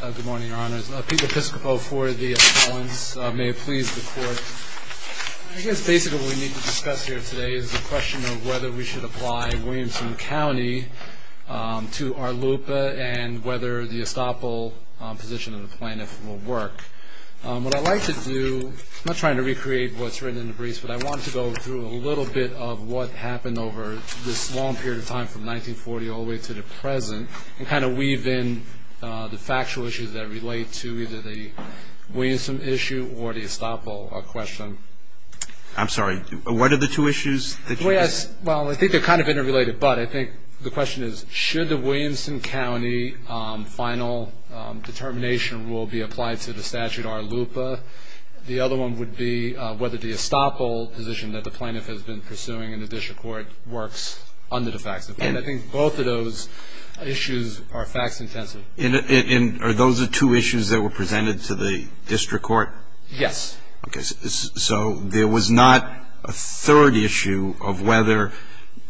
Good morning, your honors. Pete Piscopo for the appellants. May it please the court. I guess basically what we need to discuss here today is the question of whether we should apply Williamson County to our LUPA and whether the estoppel position of the plaintiff will work. What I'd like to do, not trying to recreate what's written in the briefs, but I want to go through a little bit of what happened over this long period of time from 1940 all the way to the present and kind of weave in the factual issues that relate to either the Williamson issue or the estoppel question. I'm sorry. What are the two issues? Well, I think they're kind of interrelated, but I think the question is, should the Williamson County final determination rule be applied to the statute or LUPA? The other one would be whether the estoppel position that the plaintiff has been pursuing in the district court works under the facts. And I think both of those issues are facts intensive. And are those the two issues that were presented to the district court? Yes. So there was not a third issue of whether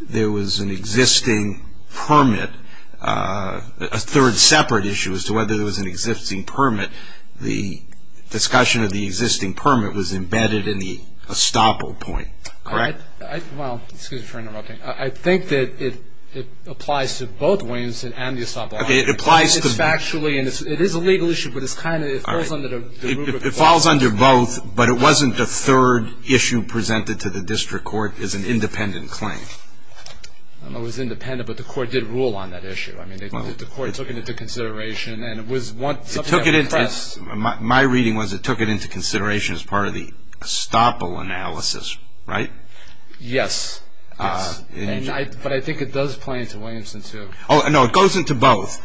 there was an existing permit, a third separate issue as to whether there was an existing permit. The discussion of the existing permit was embedded in the estoppel point, correct? Well, excuse me for interrupting. I think that it applies to both Williamson and the estoppel. Okay, it applies to both. And it's factually, and it is a legal issue, but it's kind of, it falls under the rubric. It falls under both, but it wasn't the third issue presented to the district court as an independent claim. It was independent, but the court did rule on that issue. I mean, the court took it into consideration, and it was something that was pressed. My reading was it took it into consideration as part of the estoppel analysis, right? Yes. But I think it does play into Williamson, too. Oh, no, it goes into both.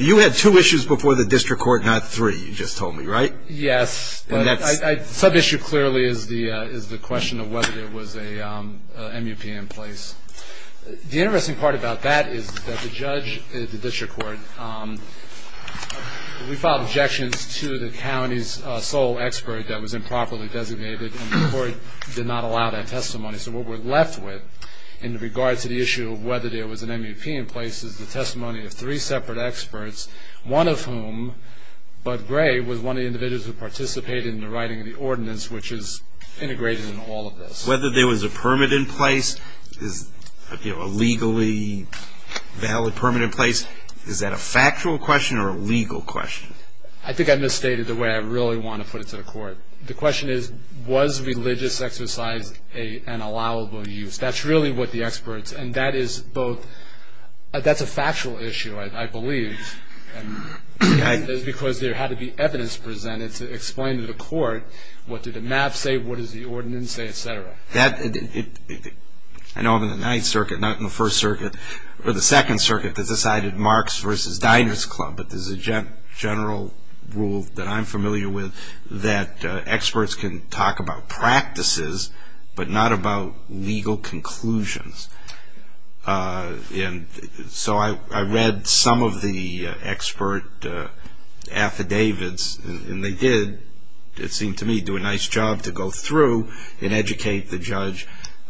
You had two issues before the district court, not three, you just told me, right? Yes. Sub-issue clearly is the question of whether there was a MUP in place. The interesting part about that is that the judge at the district court, we filed objections to the county's sole expert that was improperly designated, and the court did not allow that testimony. So what we're left with in regards to the issue of whether there was an MUP in place is the testimony of three separate experts, one of whom, Bud Gray, was one of the individuals who participated in the writing of the ordinance, which is integrated in all of this. Whether there was a permit in place, you know, a legally valid permit in place, is that a factual question or a legal question? I think I misstated the way I really want to put it to the court. The question is, was religious exercise an allowable use? That's really what the experts, and that is both, that's a factual issue, I believe, because there had to be evidence presented to explain to the court, what did the map say, what does the ordinance say, et cetera. I know I'm in the Ninth Circuit, not in the First Circuit, or the Second Circuit, that decided Marx versus Diners Club, but there's a general rule that I'm familiar with that experts can talk about practices, but not about legal conclusions. And so I read some of the expert affidavits, and they did, it seemed to me, do a nice job to go through and educate the judge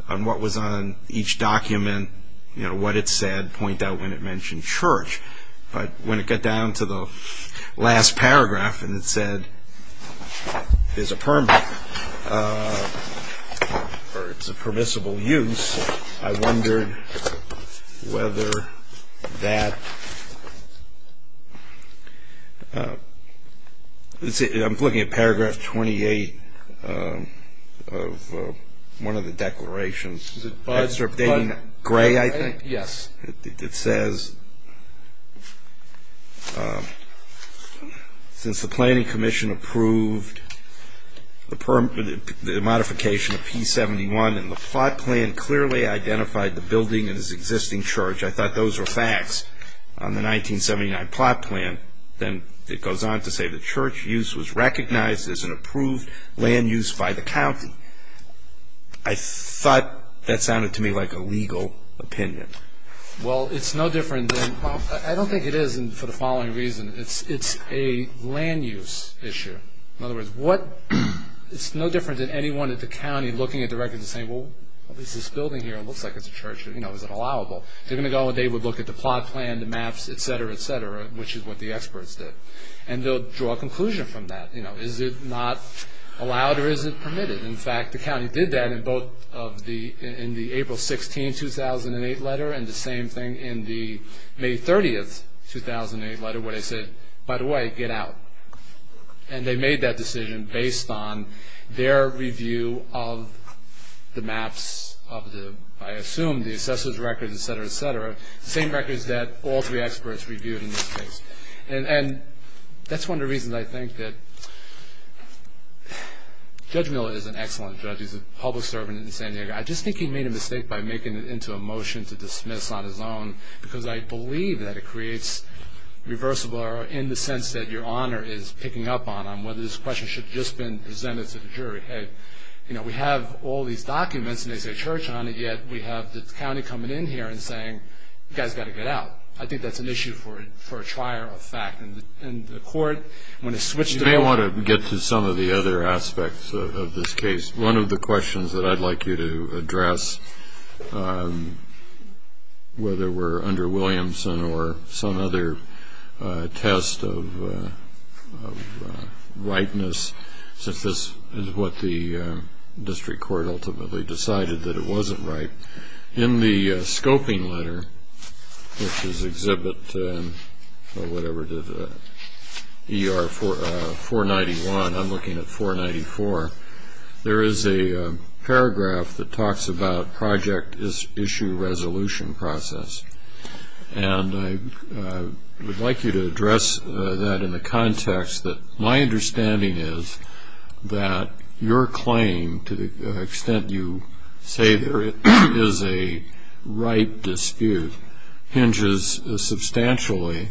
on what was on each document, you know, what it said, point out when it mentioned church. But when it got down to the last paragraph, and it said, is a permit, or it's a permissible use, I wondered whether that, let's see, I'm looking at paragraph 28 of one of the declarations. Is it buzzed? Gray, I think? Yes. It says, since the Planning Commission approved the modification of P71, and the plot plan clearly identified the building as existing church, I thought those were facts on the 1979 plot plan. Then it goes on to say the church use was recognized as an approved land use by the county. I thought that sounded to me like a legal opinion. Well, it's no different than, I don't think it is for the following reason. It's a land use issue. In other words, what, it's no different than anyone at the county looking at the records and saying, well, this building here looks like it's a church, you know, is it allowable? They're going to go and they would look at the plot plan, the maps, et cetera, et cetera, which is what the experts did. And they'll draw a conclusion from that. You know, is it not allowed or is it permitted? In fact, the county did that in both in the April 16, 2008 letter and the same thing in the May 30, 2008 letter where they said, by the way, get out. And they made that decision based on their review of the maps of the, I assume, the assessor's records, et cetera, et cetera, the same records that all three experts reviewed in this case. And that's one of the reasons I think that Judge Miller is an excellent judge. He's a public servant in San Diego. I just think he made a mistake by making it into a motion to dismiss on his own because I believe that it creates reversible error in the sense that your Honor is picking up on, on whether this question should have just been presented to the jury. Hey, you know, we have all these documents and they say church on it, yet we have the county coming in here and saying, you guys got to get out. I think that's an issue for a trier of fact. And the court, when it switched to the court. You may want to get to some of the other aspects of this case. One of the questions that I'd like you to address, whether we're under Williamson or some other test of rightness, since this is what the district court ultimately decided that it wasn't right. In the scoping letter, which is exhibit ER 491, I'm looking at 494, there is a paragraph that talks about project issue resolution process. And I would like you to address that in the context that my understanding is that your claim, to the extent you say there is a right dispute, hinges substantially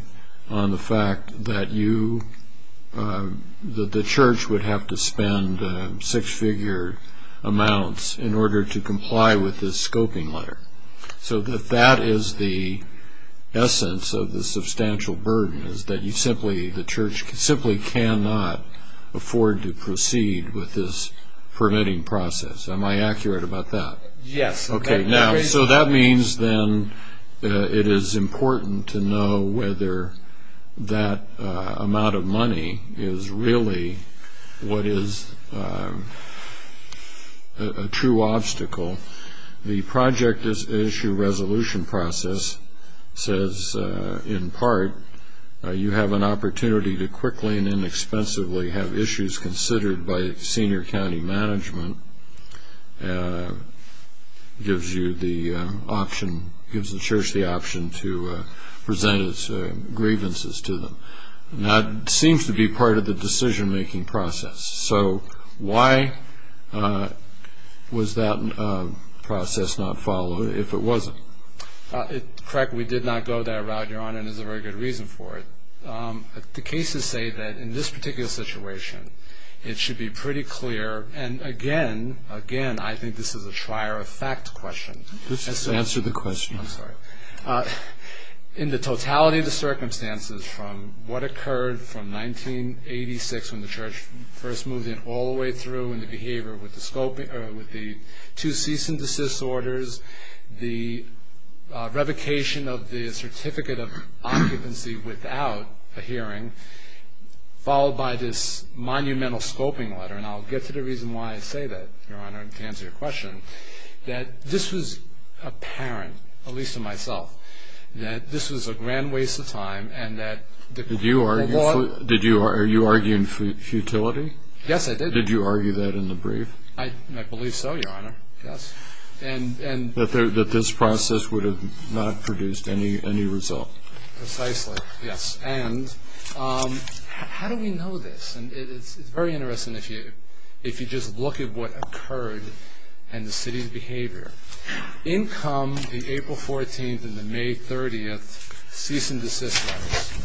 on the fact that you, that the church would have to spend six-figure amounts in order to comply with this scoping letter. So if that is the essence of the substantial burden, is that you simply, the church simply cannot afford to proceed with this permitting process. Am I accurate about that? Yes. Okay, now, so that means then it is important to know whether that amount of money is really what is a true obstacle. The project issue resolution process says, in part, you have an opportunity to quickly and inexpensively have issues considered by senior county management, gives you the option, gives the church the option to present its grievances to them. That seems to be part of the decision-making process. So why was that process not followed if it wasn't? Correct, we did not go that route, Your Honor, and there is a very good reason for it. The cases say that in this particular situation, it should be pretty clear, and again, again, I think this is a trier-of-fact question. Just answer the question. I'm sorry. In the totality of the circumstances from what occurred from 1986 when the church first moved in all the way through in the behavior with the two cease-and-desist orders, the revocation of the certificate of occupancy without a hearing, followed by this monumental scoping letter, and I'll get to the reason why I say that, Your Honor, to answer your question, that this was apparent, at least to myself, that this was a grand waste of time. Did you argue in futility? Yes, I did. Did you argue that in the brief? I believe so, Your Honor, yes. That this process would have not produced any result? Precisely, yes. And how do we know this? It's very interesting if you just look at what occurred and the city's behavior. In come the April 14th and the May 30th cease-and-desist letters.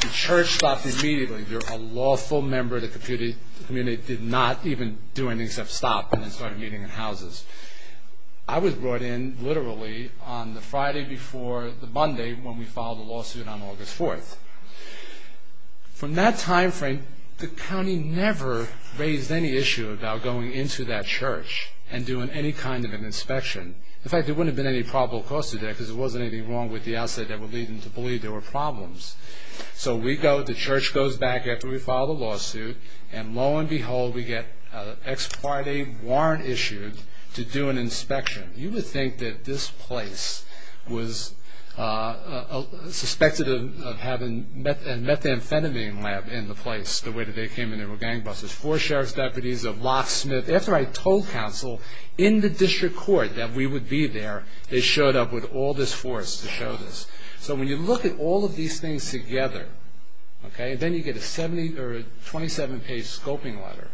The church stopped immediately. A lawful member of the community did not even do anything except stop and then started meeting in houses. I was brought in literally on the Friday before the Monday when we filed the lawsuit on August 4th. From that time frame, the county never raised any issue about going into that church and doing any kind of an inspection. In fact, there wouldn't have been any probable cause to that because there wasn't anything wrong with the outset that would lead them to believe there were problems. So we go, the church goes back after we file the lawsuit, and lo and behold, we get an ex-parte warrant issued to do an inspection. You would think that this place was suspected of having a methamphetamine lab in the place the way that they came in. There were gangbusters. Four sheriff's deputies, a locksmith. After I told counsel in the district court that we would be there, they showed up with all this force to show this. So when you look at all of these things together, and then you get a 27-page scoping letter,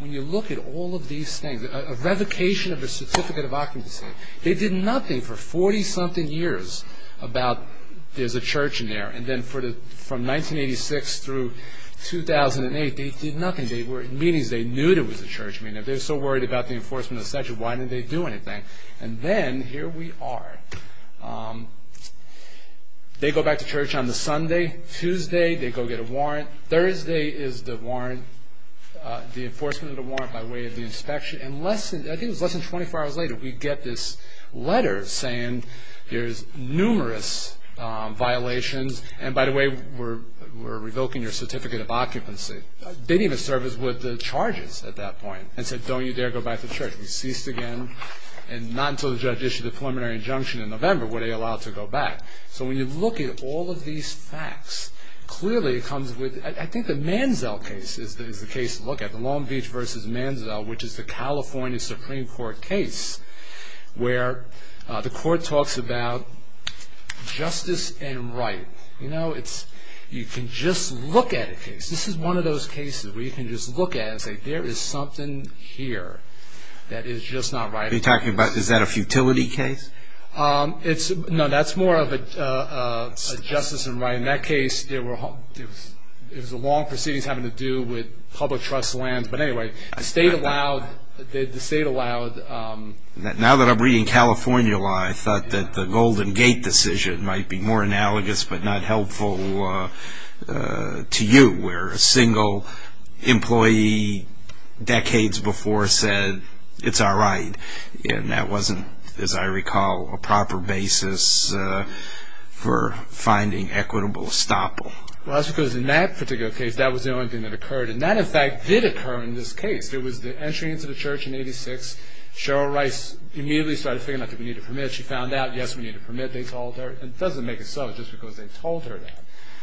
when you look at all of these things, a revocation of a certificate of occupancy, they did nothing for 40-something years about there's a church in there. And then from 1986 through 2008, they did nothing. They were in meetings. They knew there was a church. I mean, if they were so worried about the enforcement of the statute, why didn't they do anything? And then here we are. They go back to church on the Sunday. Tuesday, they go get a warrant. Thursday is the warrant, the enforcement of the warrant by way of the inspection. And I think it was less than 24 hours later, we get this letter saying there's numerous violations. And, by the way, we're revoking your certificate of occupancy. They didn't even serve us with the charges at that point and said don't you dare go back to church. We ceased again. And not until the judge issued a preliminary injunction in November were they allowed to go back. So when you look at all of these facts, clearly it comes with, I think the Manziel case is the case to look at, the Long Beach versus Manziel, which is the California Supreme Court case where the court talks about justice and right. You know, you can just look at a case. This is one of those cases where you can just look at it and say there is something here that is just not right. You're talking about, is that a futility case? No, that's more of a justice and right. In that case, it was a long proceedings having to do with public trust lands. But, anyway, the state allowed. Now that I'm reading California law, I thought that the Golden Gate decision might be more analogous but not helpful to you, where a single employee decades before said it's all right. And that wasn't, as I recall, a proper basis for finding equitable estoppel. Well, that's because in that particular case, that was the only thing that occurred. And that, in fact, did occur in this case. It was the entry into the church in 86. Cheryl Rice immediately started figuring out that we need a permit. She found out, yes, we need a permit. They told her. And it doesn't make it so just because they told her that.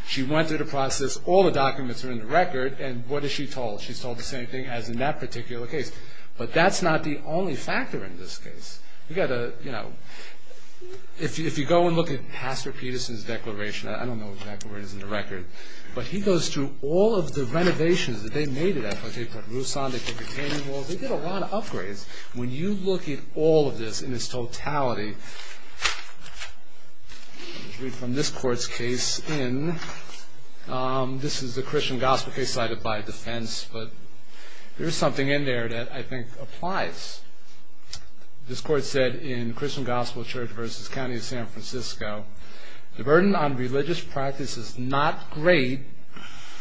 She went through the process. All the documents are in the record. And what has she told? She's told the same thing as in that particular case. But that's not the only factor in this case. If you go and look at Pastor Peterson's declaration, I don't know what the declaration is in the record, but he goes through all of the renovations that they made. They put roofs on. They put the canyon walls. They did a lot of upgrades. When you look at all of this in its totality, from this court's case in, this is the Christian gospel case cited by defense, but there's something in there that I think applies. This court said in Christian Gospel Church v. County of San Francisco, the burden on religious practice is not great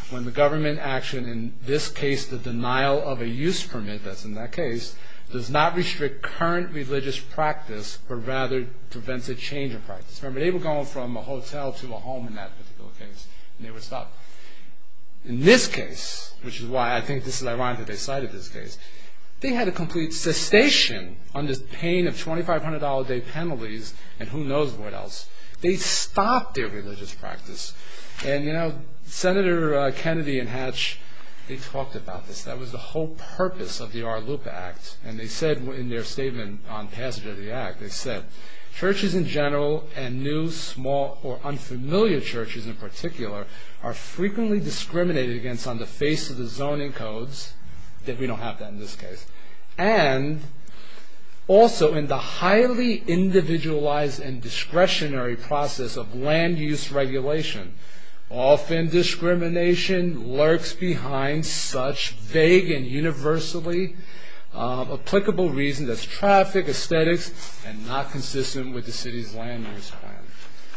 when the government action, in this case the denial of a use permit, that's in that case, does not restrict current religious practice, but rather prevents a change of practice. Remember, they were going from a hotel to a home in that particular case. And they were stopped. In this case, which is why I think this is ironic that they cited this case, they had a complete cessation on this pain of $2,500 a day penalties and who knows what else. They stopped their religious practice. And Senator Kennedy and Hatch, they talked about this. That was the whole purpose of the RLUPA Act. And they said in their statement on passage of the Act, they said, churches in general and new, small, or unfamiliar churches in particular are frequently discriminated against on the face of the zoning codes. We don't have that in this case. And also in the highly individualized and discretionary process of land use regulation, often discrimination lurks behind such vague and universally applicable reasons as traffic, aesthetics, and not consistent with the city's land use plan.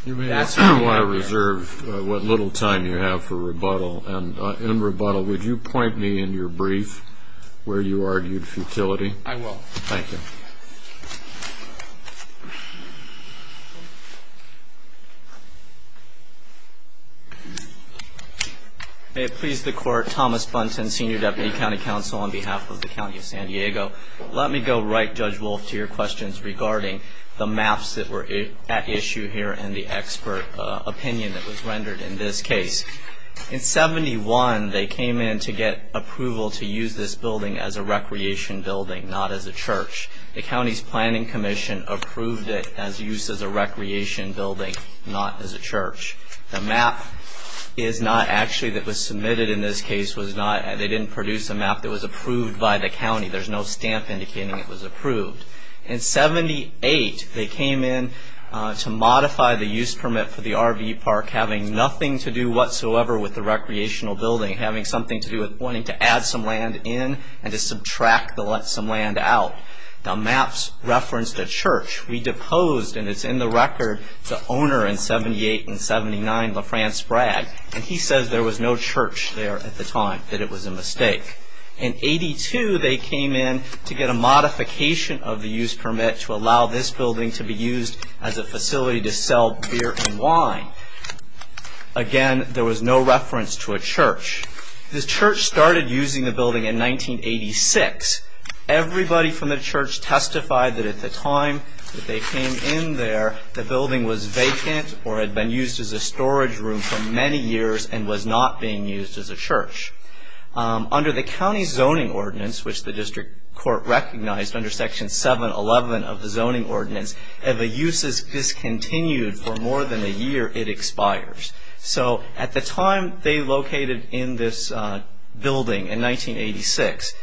You may ask who I reserve what little time you have for rebuttal. And in rebuttal, would you point me in your brief where you argued futility? I will. Thank you. May it please the Court, Thomas Bunton, Senior Deputy County Counsel, on behalf of the County of San Diego. Let me go right, Judge Wolf, to your questions regarding the maps that were at issue here and the expert opinion that was rendered in this case. In 71, they came in to get approval to use this building as a recreation building, not as a church. The county's planning commission approved it as used as a recreation building, not as a church. The map is not actually that was submitted in this case. They didn't produce a map that was approved by the county. There's no stamp indicating it was approved. In 78, they came in to modify the use permit for the RV park, having nothing to do whatsoever with the recreational building, having something to do with wanting to add some land in and to subtract to let some land out. The maps referenced a church. We deposed, and it's in the record, the owner in 78 and 79, LaFrance Bragg, that it was a mistake. In 82, they came in to get a modification of the use permit to allow this building to be used as a facility to sell beer and wine. Again, there was no reference to a church. The church started using the building in 1986. Everybody from the church testified that at the time that they came in there, the building was vacant or had been used as a storage room for many years and was not being used as a church. Under the county zoning ordinance, which the district court recognized under Section 711 of the zoning ordinance, if a use is discontinued for more than a year, it expires. So at the time they located in this building in 1986,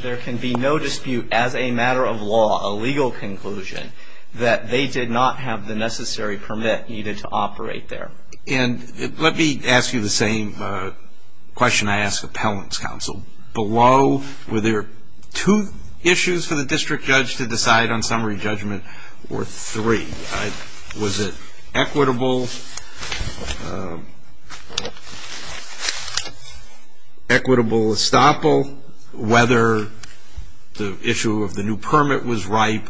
there can be no dispute as a matter of law, a legal conclusion, that they did not have the necessary permit needed to operate there. Let me ask you the same question I asked the appellant's counsel. Below, were there two issues for the district judge to decide on summary judgment or three? Was it equitable estoppel? Whether the issue of the new permit was ripe?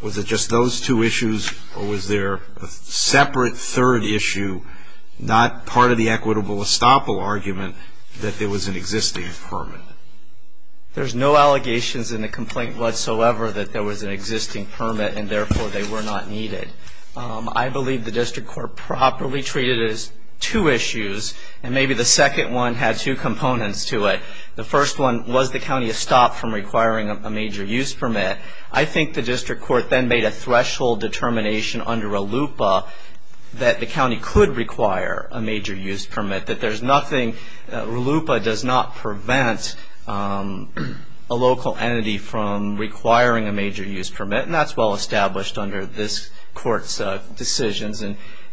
Was it just those two issues or was there a separate third issue, not part of the equitable estoppel argument, that there was an existing permit? There's no allegations in the complaint whatsoever that there was an existing permit and therefore they were not needed. I believe the district court properly treated it as two issues and maybe the second one had two components to it. The first one, was the county estopped from requiring a major use permit? I think the district court then made a threshold determination under RLUPA that the county could require a major use permit, that RLUPA does not prevent a local entity from requiring a major use permit and that's well established under this court's decisions.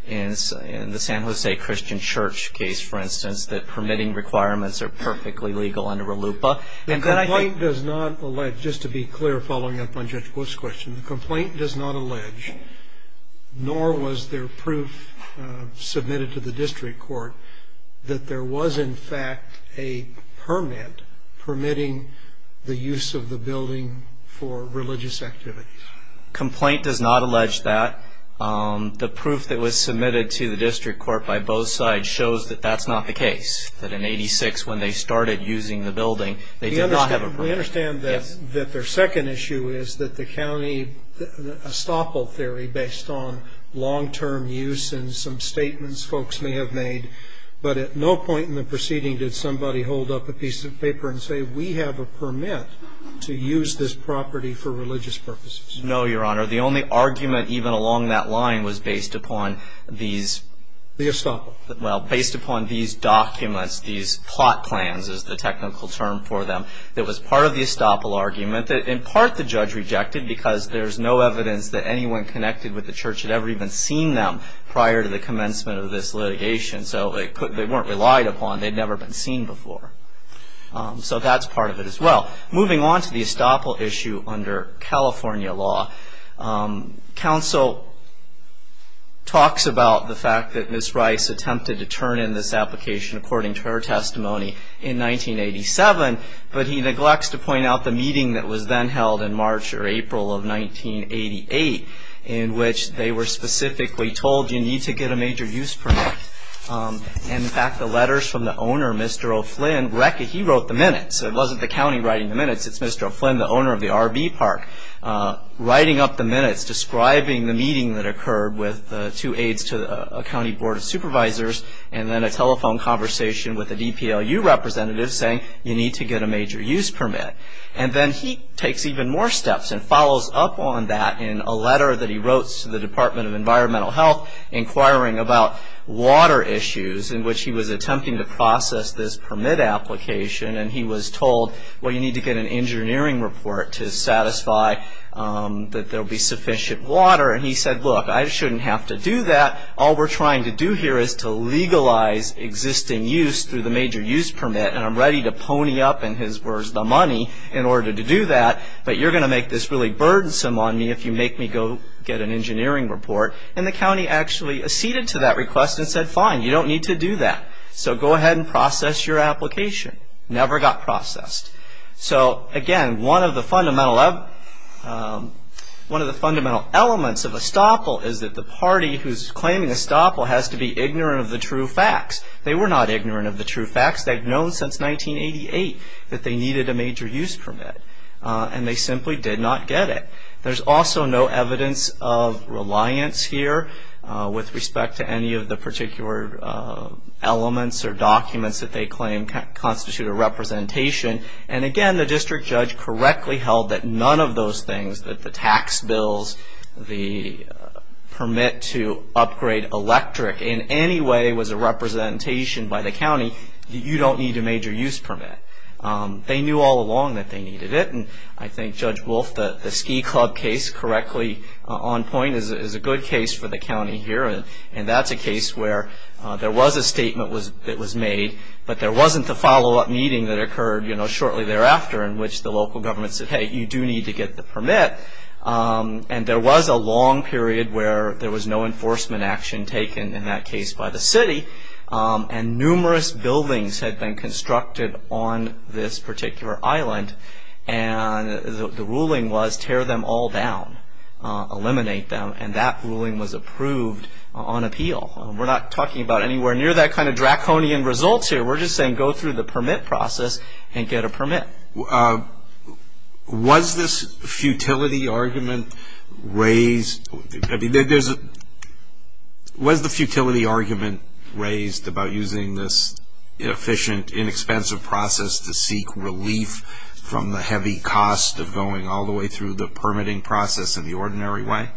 In the San Jose Christian Church case, for instance, that permitting requirements are perfectly legal under RLUPA. The complaint does not allege, just to be clear following up on Judge Wolf's question, the complaint does not allege, nor was there proof submitted to the district court, that there was in fact a permit permitting the use of the building for religious activities. The complaint does not allege that. The proof that was submitted to the district court by both sides shows that that's not the case, that in 86, when they started using the building, they did not have a permit. We understand that their second issue is that the county estoppel theory based on long-term use and some statements folks may have made, but at no point in the proceeding did somebody hold up a piece of paper and say, we have a permit to use this property for religious purposes. No, Your Honor. The only argument even along that line was based upon these. The estoppel. Well, based upon these documents, these plot plans is the technical term for them. It was part of the estoppel argument that in part the judge rejected because there's no evidence that anyone connected with the church had ever even seen them prior to the commencement of this litigation. So they weren't relied upon. They'd never been seen before. So that's part of it as well. Moving on to the estoppel issue under California law, counsel talks about the fact that Ms. Rice attempted to turn in this application, according to her testimony, in 1987, but he neglects to point out the meeting that was then held in March or April of 1988 in which they were specifically told you need to get a major use permit. In fact, the letters from the owner, Mr. O'Flynn, he wrote the minutes. It wasn't the county writing the minutes. It's Mr. O'Flynn, the owner of the RV park, writing up the minutes, describing the meeting that occurred with two aides to a county board of supervisors and then a telephone conversation with a DPLU representative saying you need to get a major use permit. And then he takes even more steps and follows up on that in a letter that he wrote to the Department of Environmental Health inquiring about water issues in which he was attempting to process this permit application and he was told, well, you need to get an engineering report to satisfy that there will be sufficient water. And he said, look, I shouldn't have to do that. All we're trying to do here is to legalize existing use through the major use permit and I'm ready to pony up, in his words, the money in order to do that, but you're going to make this really burdensome on me if you make me go get an engineering report. And the county actually acceded to that request and said, fine, you don't need to do that. So go ahead and process your application. Never got processed. So, again, one of the fundamental elements of estoppel is that the party who's claiming estoppel has to be ignorant of the true facts. They were not ignorant of the true facts. They'd known since 1988 that they needed a major use permit and they simply did not get it. There's also no evidence of reliance here with respect to any of the particular elements or documents that they claim constitute a representation. And, again, the district judge correctly held that none of those things, that the tax bills, the permit to upgrade electric in any way was a representation by the county, you don't need a major use permit. They knew all along that they needed it and I think Judge Wolf, the ski club case, correctly on point, is a good case for the county here. And that's a case where there was a statement that was made, but there wasn't the follow-up meeting that occurred shortly thereafter in which the local government said, hey, you do need to get the permit. And there was a long period where there was no enforcement action taken, in that case, by the city. And numerous buildings had been constructed on this particular island and the ruling was tear them all down, eliminate them. And that ruling was approved on appeal. We're not talking about anywhere near that kind of draconian results here. We're just saying go through the permit process and get a permit. Was this futility argument raised about using this inefficient, inexpensive process to seek relief from the heavy cost of going all the way through the permitting process in the ordinary way?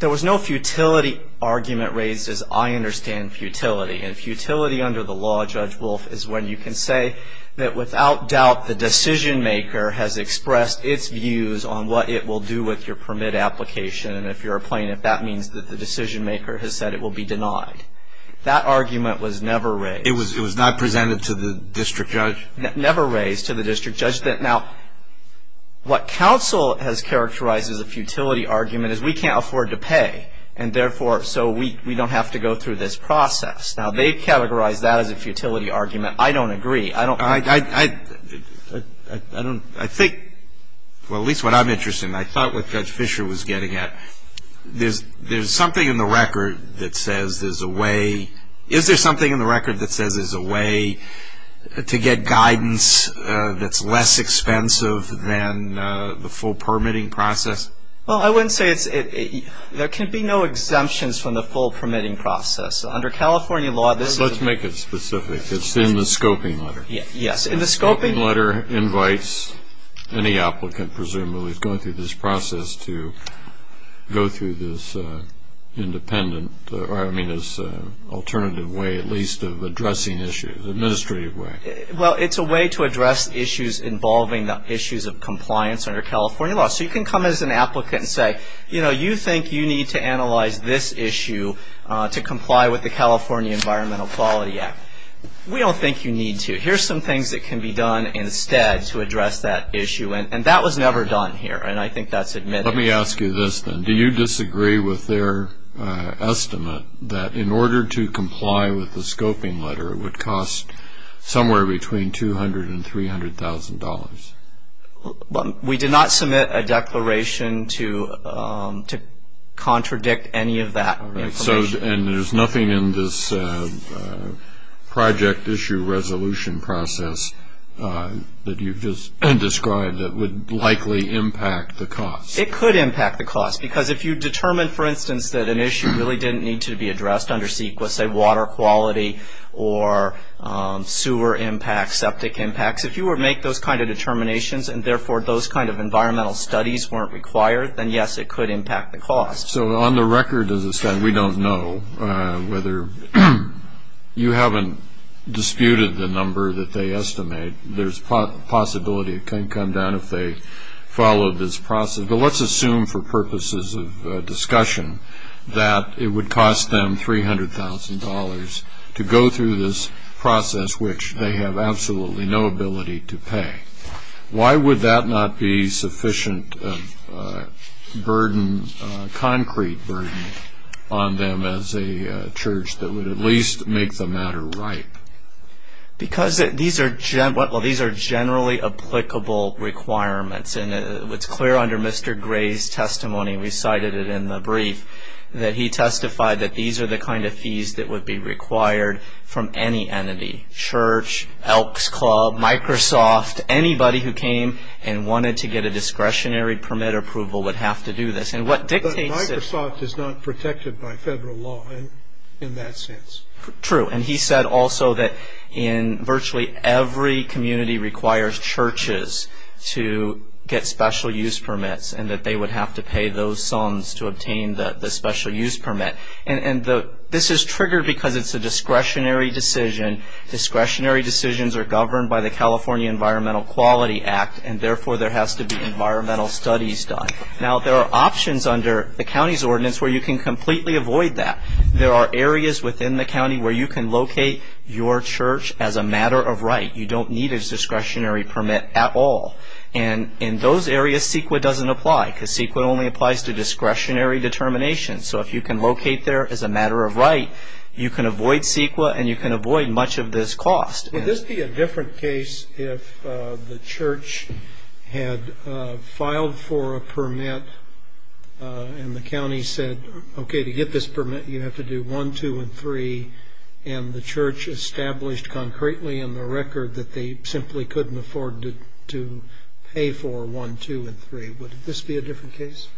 There was no futility argument raised, as I understand futility. And futility under the law, Judge Wolf, is when you can say that without doubt the decision maker has expressed its views on what it will do with your permit application. And if you're a plaintiff, that means that the decision maker has said it will be denied. That argument was never raised. It was not presented to the district judge? Never raised to the district judge. Now, what counsel has characterized as a futility argument is we can't afford to pay, and therefore so we don't have to go through this process. Now, they've categorized that as a futility argument. I don't agree. I think, well, at least what I'm interested in, I thought what Judge Fisher was getting at. There's something in the record that says there's a way. Is there something in the record that says there's a way to get guidance that's less expensive than the full permitting process? Well, I wouldn't say it's – there can be no exemptions from the full permitting process. Under California law, this is – Let's make it specific. It's in the scoping letter. Yes, in the scoping – The scoping letter invites any applicant, presumably, who is going through this process to go through this independent – or I mean this alternative way at least of addressing issues, administrative way. Well, it's a way to address issues involving the issues of compliance under California law. So you can come as an applicant and say, you know, you think you need to analyze this issue to comply with the California Environmental Quality Act. We don't think you need to. Here's some things that can be done instead to address that issue. And that was never done here, and I think that's admitted. Let me ask you this then. Do you disagree with their estimate that in order to comply with the scoping letter, it would cost somewhere between $200,000 and $300,000? We did not submit a declaration to contradict any of that information. And there's nothing in this project issue resolution process that you've just – and described that would likely impact the cost? It could impact the cost because if you determine, for instance, that an issue really didn't need to be addressed under CEQA, say water quality or sewer impacts, septic impacts, if you would make those kind of determinations and therefore those kind of environmental studies weren't required, then yes, it could impact the cost. So on the record, we don't know whether you haven't disputed the number that they estimate. There's a possibility it can come down if they follow this process. But let's assume for purposes of discussion that it would cost them $300,000 to go through this process, which they have absolutely no ability to pay. Why would that not be sufficient burden, concrete burden on them as a church that would at least make the matter right? Because these are generally applicable requirements. And it's clear under Mr. Gray's testimony, we cited it in the brief, that he testified that these are the kind of fees that would be required from any entity, church, Elks Club, Microsoft, anybody who came and wanted to get a discretionary permit approval would have to do this. And what dictates this... But Microsoft is not protected by federal law in that sense. True. And he said also that in virtually every community requires churches to get special use permits and that they would have to pay those sums to obtain the special use permit. And this is triggered because it's a discretionary decision. Discretionary decisions are governed by the California Environmental Quality Act, and therefore there has to be environmental studies done. Now, there are options under the county's ordinance where you can completely avoid that. There are areas within the county where you can locate your church as a matter of right. You don't need a discretionary permit at all. And in those areas, CEQA doesn't apply because CEQA only applies to discretionary determinations. So if you can locate there as a matter of right, you can avoid CEQA and you can avoid much of this cost. Would this be a different case if the church had filed for a permit and the county said, okay, to get this permit you have to do one, two, and three, and the church established concretely in the record that they simply couldn't afford to pay for one, two, and three. Would this be a different case?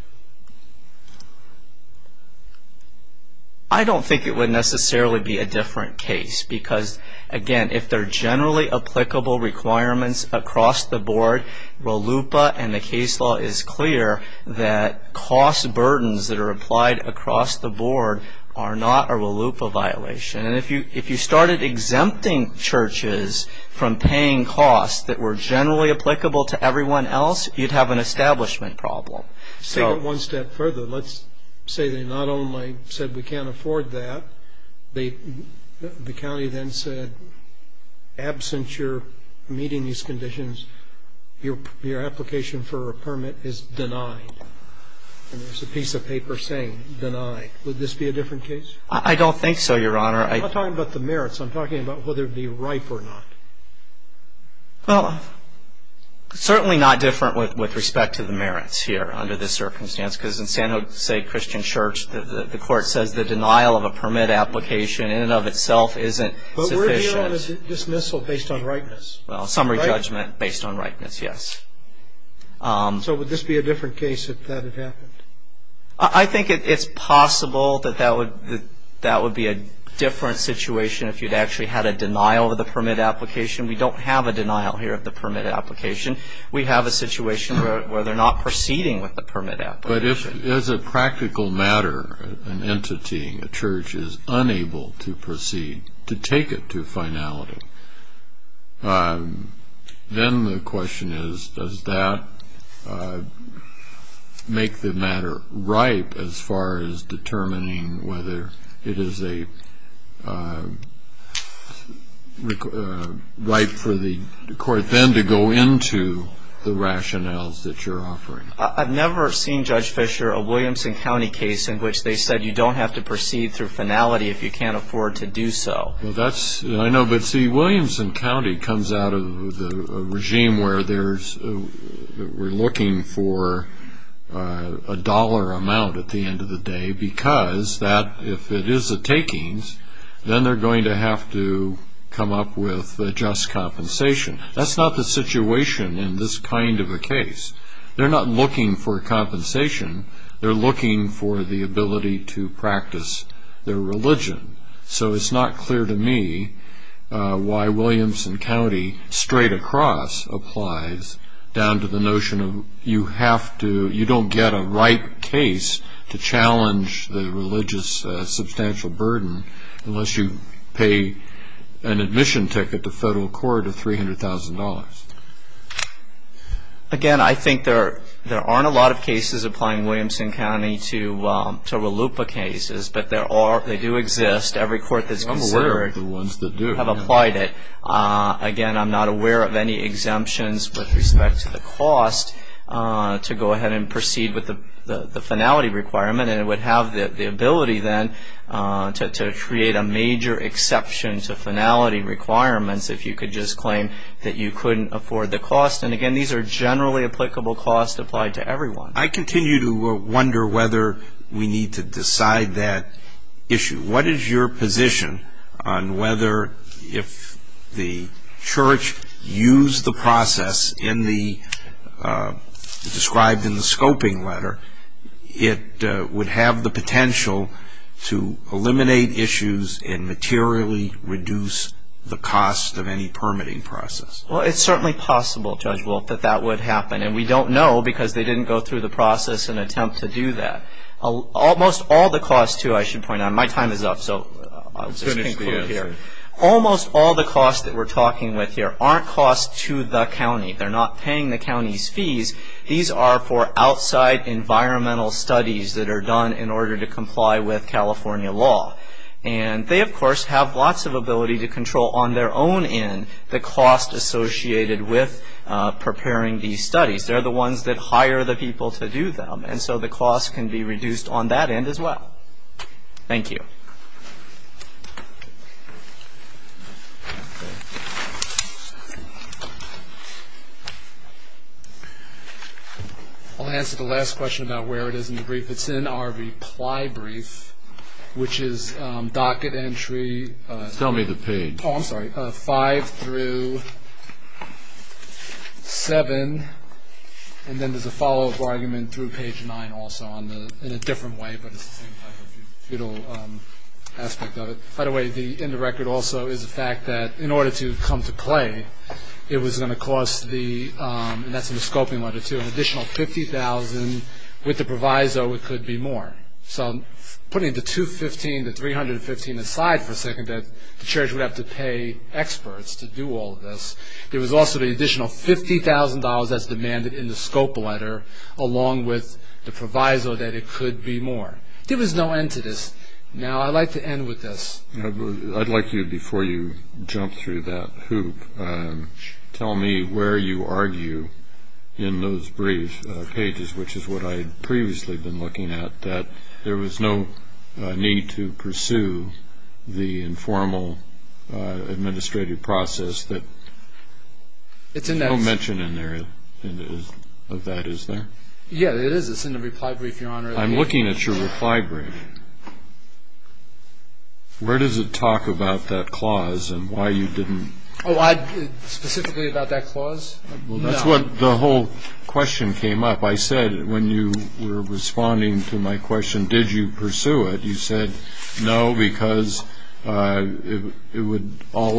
I don't think it would necessarily be a different case because, again, if they're generally applicable requirements across the board, RLUIPA and the case law is clear that cost burdens that are applied across the board are not a RLUIPA violation. And if you started exempting churches from paying costs that were generally applicable to everyone else, you'd have an establishment problem. Say that one step further. Let's say they not only said we can't afford that, the county then said, absent your meeting these conditions, your application for a permit is denied. And there's a piece of paper saying denied. Would this be a different case? I don't think so, Your Honor. I'm not talking about the merits. I'm talking about whether it would be ripe or not. Well, certainly not different with respect to the merits here under this circumstance because in San Jose Christian Church, the court says the denial of a permit application in and of itself isn't sufficient. But we're dealing with dismissal based on ripeness. Well, summary judgment based on ripeness, yes. So would this be a different case if that had happened? I think it's possible that that would be a different situation if you'd actually had a denial of the permit application. We don't have a denial here of the permit application. We have a situation where they're not proceeding with the permit application. But if, as a practical matter, an entity, a church, is unable to proceed, to take it to finality, then the question is does that make the matter ripe as far as determining whether it is ripe for the court then to go into the rationales that you're offering? I've never seen, Judge Fischer, a Williamson County case in which they said you don't have to proceed through finality if you can't afford to do so. I know, but see, Williamson County comes out of a regime where we're looking for a dollar amount at the end of the day because if it is a takings, then they're going to have to come up with just compensation. That's not the situation in this kind of a case. They're not looking for compensation. They're looking for the ability to practice their religion. So it's not clear to me why Williamson County straight across applies down to the notion of you have to, you don't get a ripe case to challenge the religious substantial burden unless you pay an admission ticket to federal court of $300,000. Again, I think there aren't a lot of cases applying Williamson County to RLUIPA cases, but they do exist. Every court that's considered have applied it. Again, I'm not aware of any exemptions with respect to the cost to go ahead and proceed with the finality requirement, and it would have the ability then to create a major exception to finality requirements if you could just claim that you couldn't afford the cost. And again, these are generally applicable costs applied to everyone. I continue to wonder whether we need to decide that issue. What is your position on whether if the church used the process described in the scoping letter, it would have the potential to eliminate issues and materially reduce the cost of any permitting process? Well, it's certainly possible, Judge Wolff, that that would happen, and we don't know because they didn't go through the process and attempt to do that. Almost all the costs, too, I should point out, my time is up, so I'll just conclude here. Almost all the costs that we're talking with here aren't costs to the county. They're not paying the county's fees. These are for outside environmental studies that are done in order to comply with California law, and they, of course, have lots of ability to control on their own end the cost associated with preparing these studies. They're the ones that hire the people to do them, and so the cost can be reduced on that end as well. Thank you. I'll answer the last question about where it is in the brief. It's in our reply brief, which is docket entry. Tell me the page. Oh, I'm sorry. Five through seven, and then there's a follow-up argument through page nine also in a different way, but it's the same type of feudal aspect of it. By the way, in the record also is the fact that in order to come to play, it was going to cost the, and that's in the scoping letter too, an additional $50,000. With the proviso, it could be more. So putting the $215,000, the $315,000 aside for a second, the church would have to pay experts to do all of this. There was also the additional $50,000 that's demanded in the scope letter along with the proviso that it could be more. There was no end to this. Now, I'd like to end with this. I'd like you, before you jump through that hoop, tell me where you argue in those brief pages, which is what I had previously been looking at, that there was no need to pursue the informal administrative process. There's no mention in there of that, is there? Yeah, there is. I'm looking at your reply brief. Where does it talk about that clause and why you didn't? Specifically about that clause? Well, that's what the whole question came up. I said when you were responding to my question, did you pursue it, you said, no, because all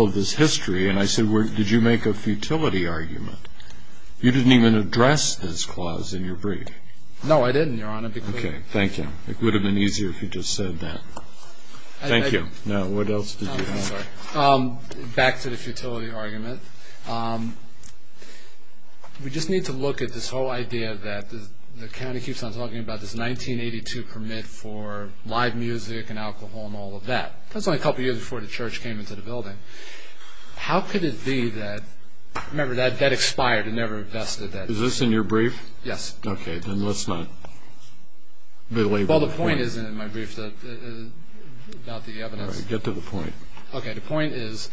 of this history. And I said, did you make a futility argument? You didn't even address this clause in your brief. No, I didn't, Your Honor. Okay. Thank you. It would have been easier if you just said that. Thank you. Now, what else did you have? Back to the futility argument. We just need to look at this whole idea that the county keeps on talking about, this 1982 permit for live music and alcohol and all of that. That's only a couple of years before the church came into the building. How could it be that, remember, that expired. It never invested. Is this in your brief? Yes. Okay. Then let's not belabor the point. Well, the point is in my brief about the evidence. All right. Get to the point. Okay. The point is,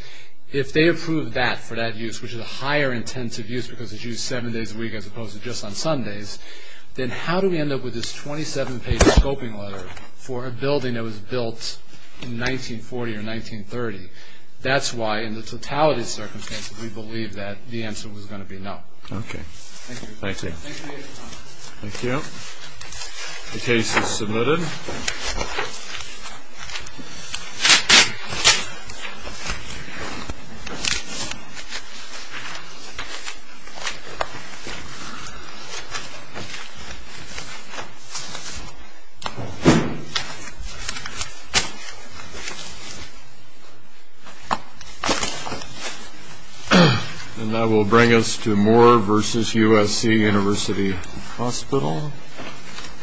if they approve that for that use, which is a higher intensive use because it's used seven days a week as opposed to just on Sundays, then how do we end up with this 27-page scoping letter for a building that was built in 1940 or 1930? That's why, in the totality of circumstances, we believe that the answer was going to be no. Okay. Thank you. Thank you. Thank you. The case is submitted. And that will bring us to Moore v. USC University Hospital.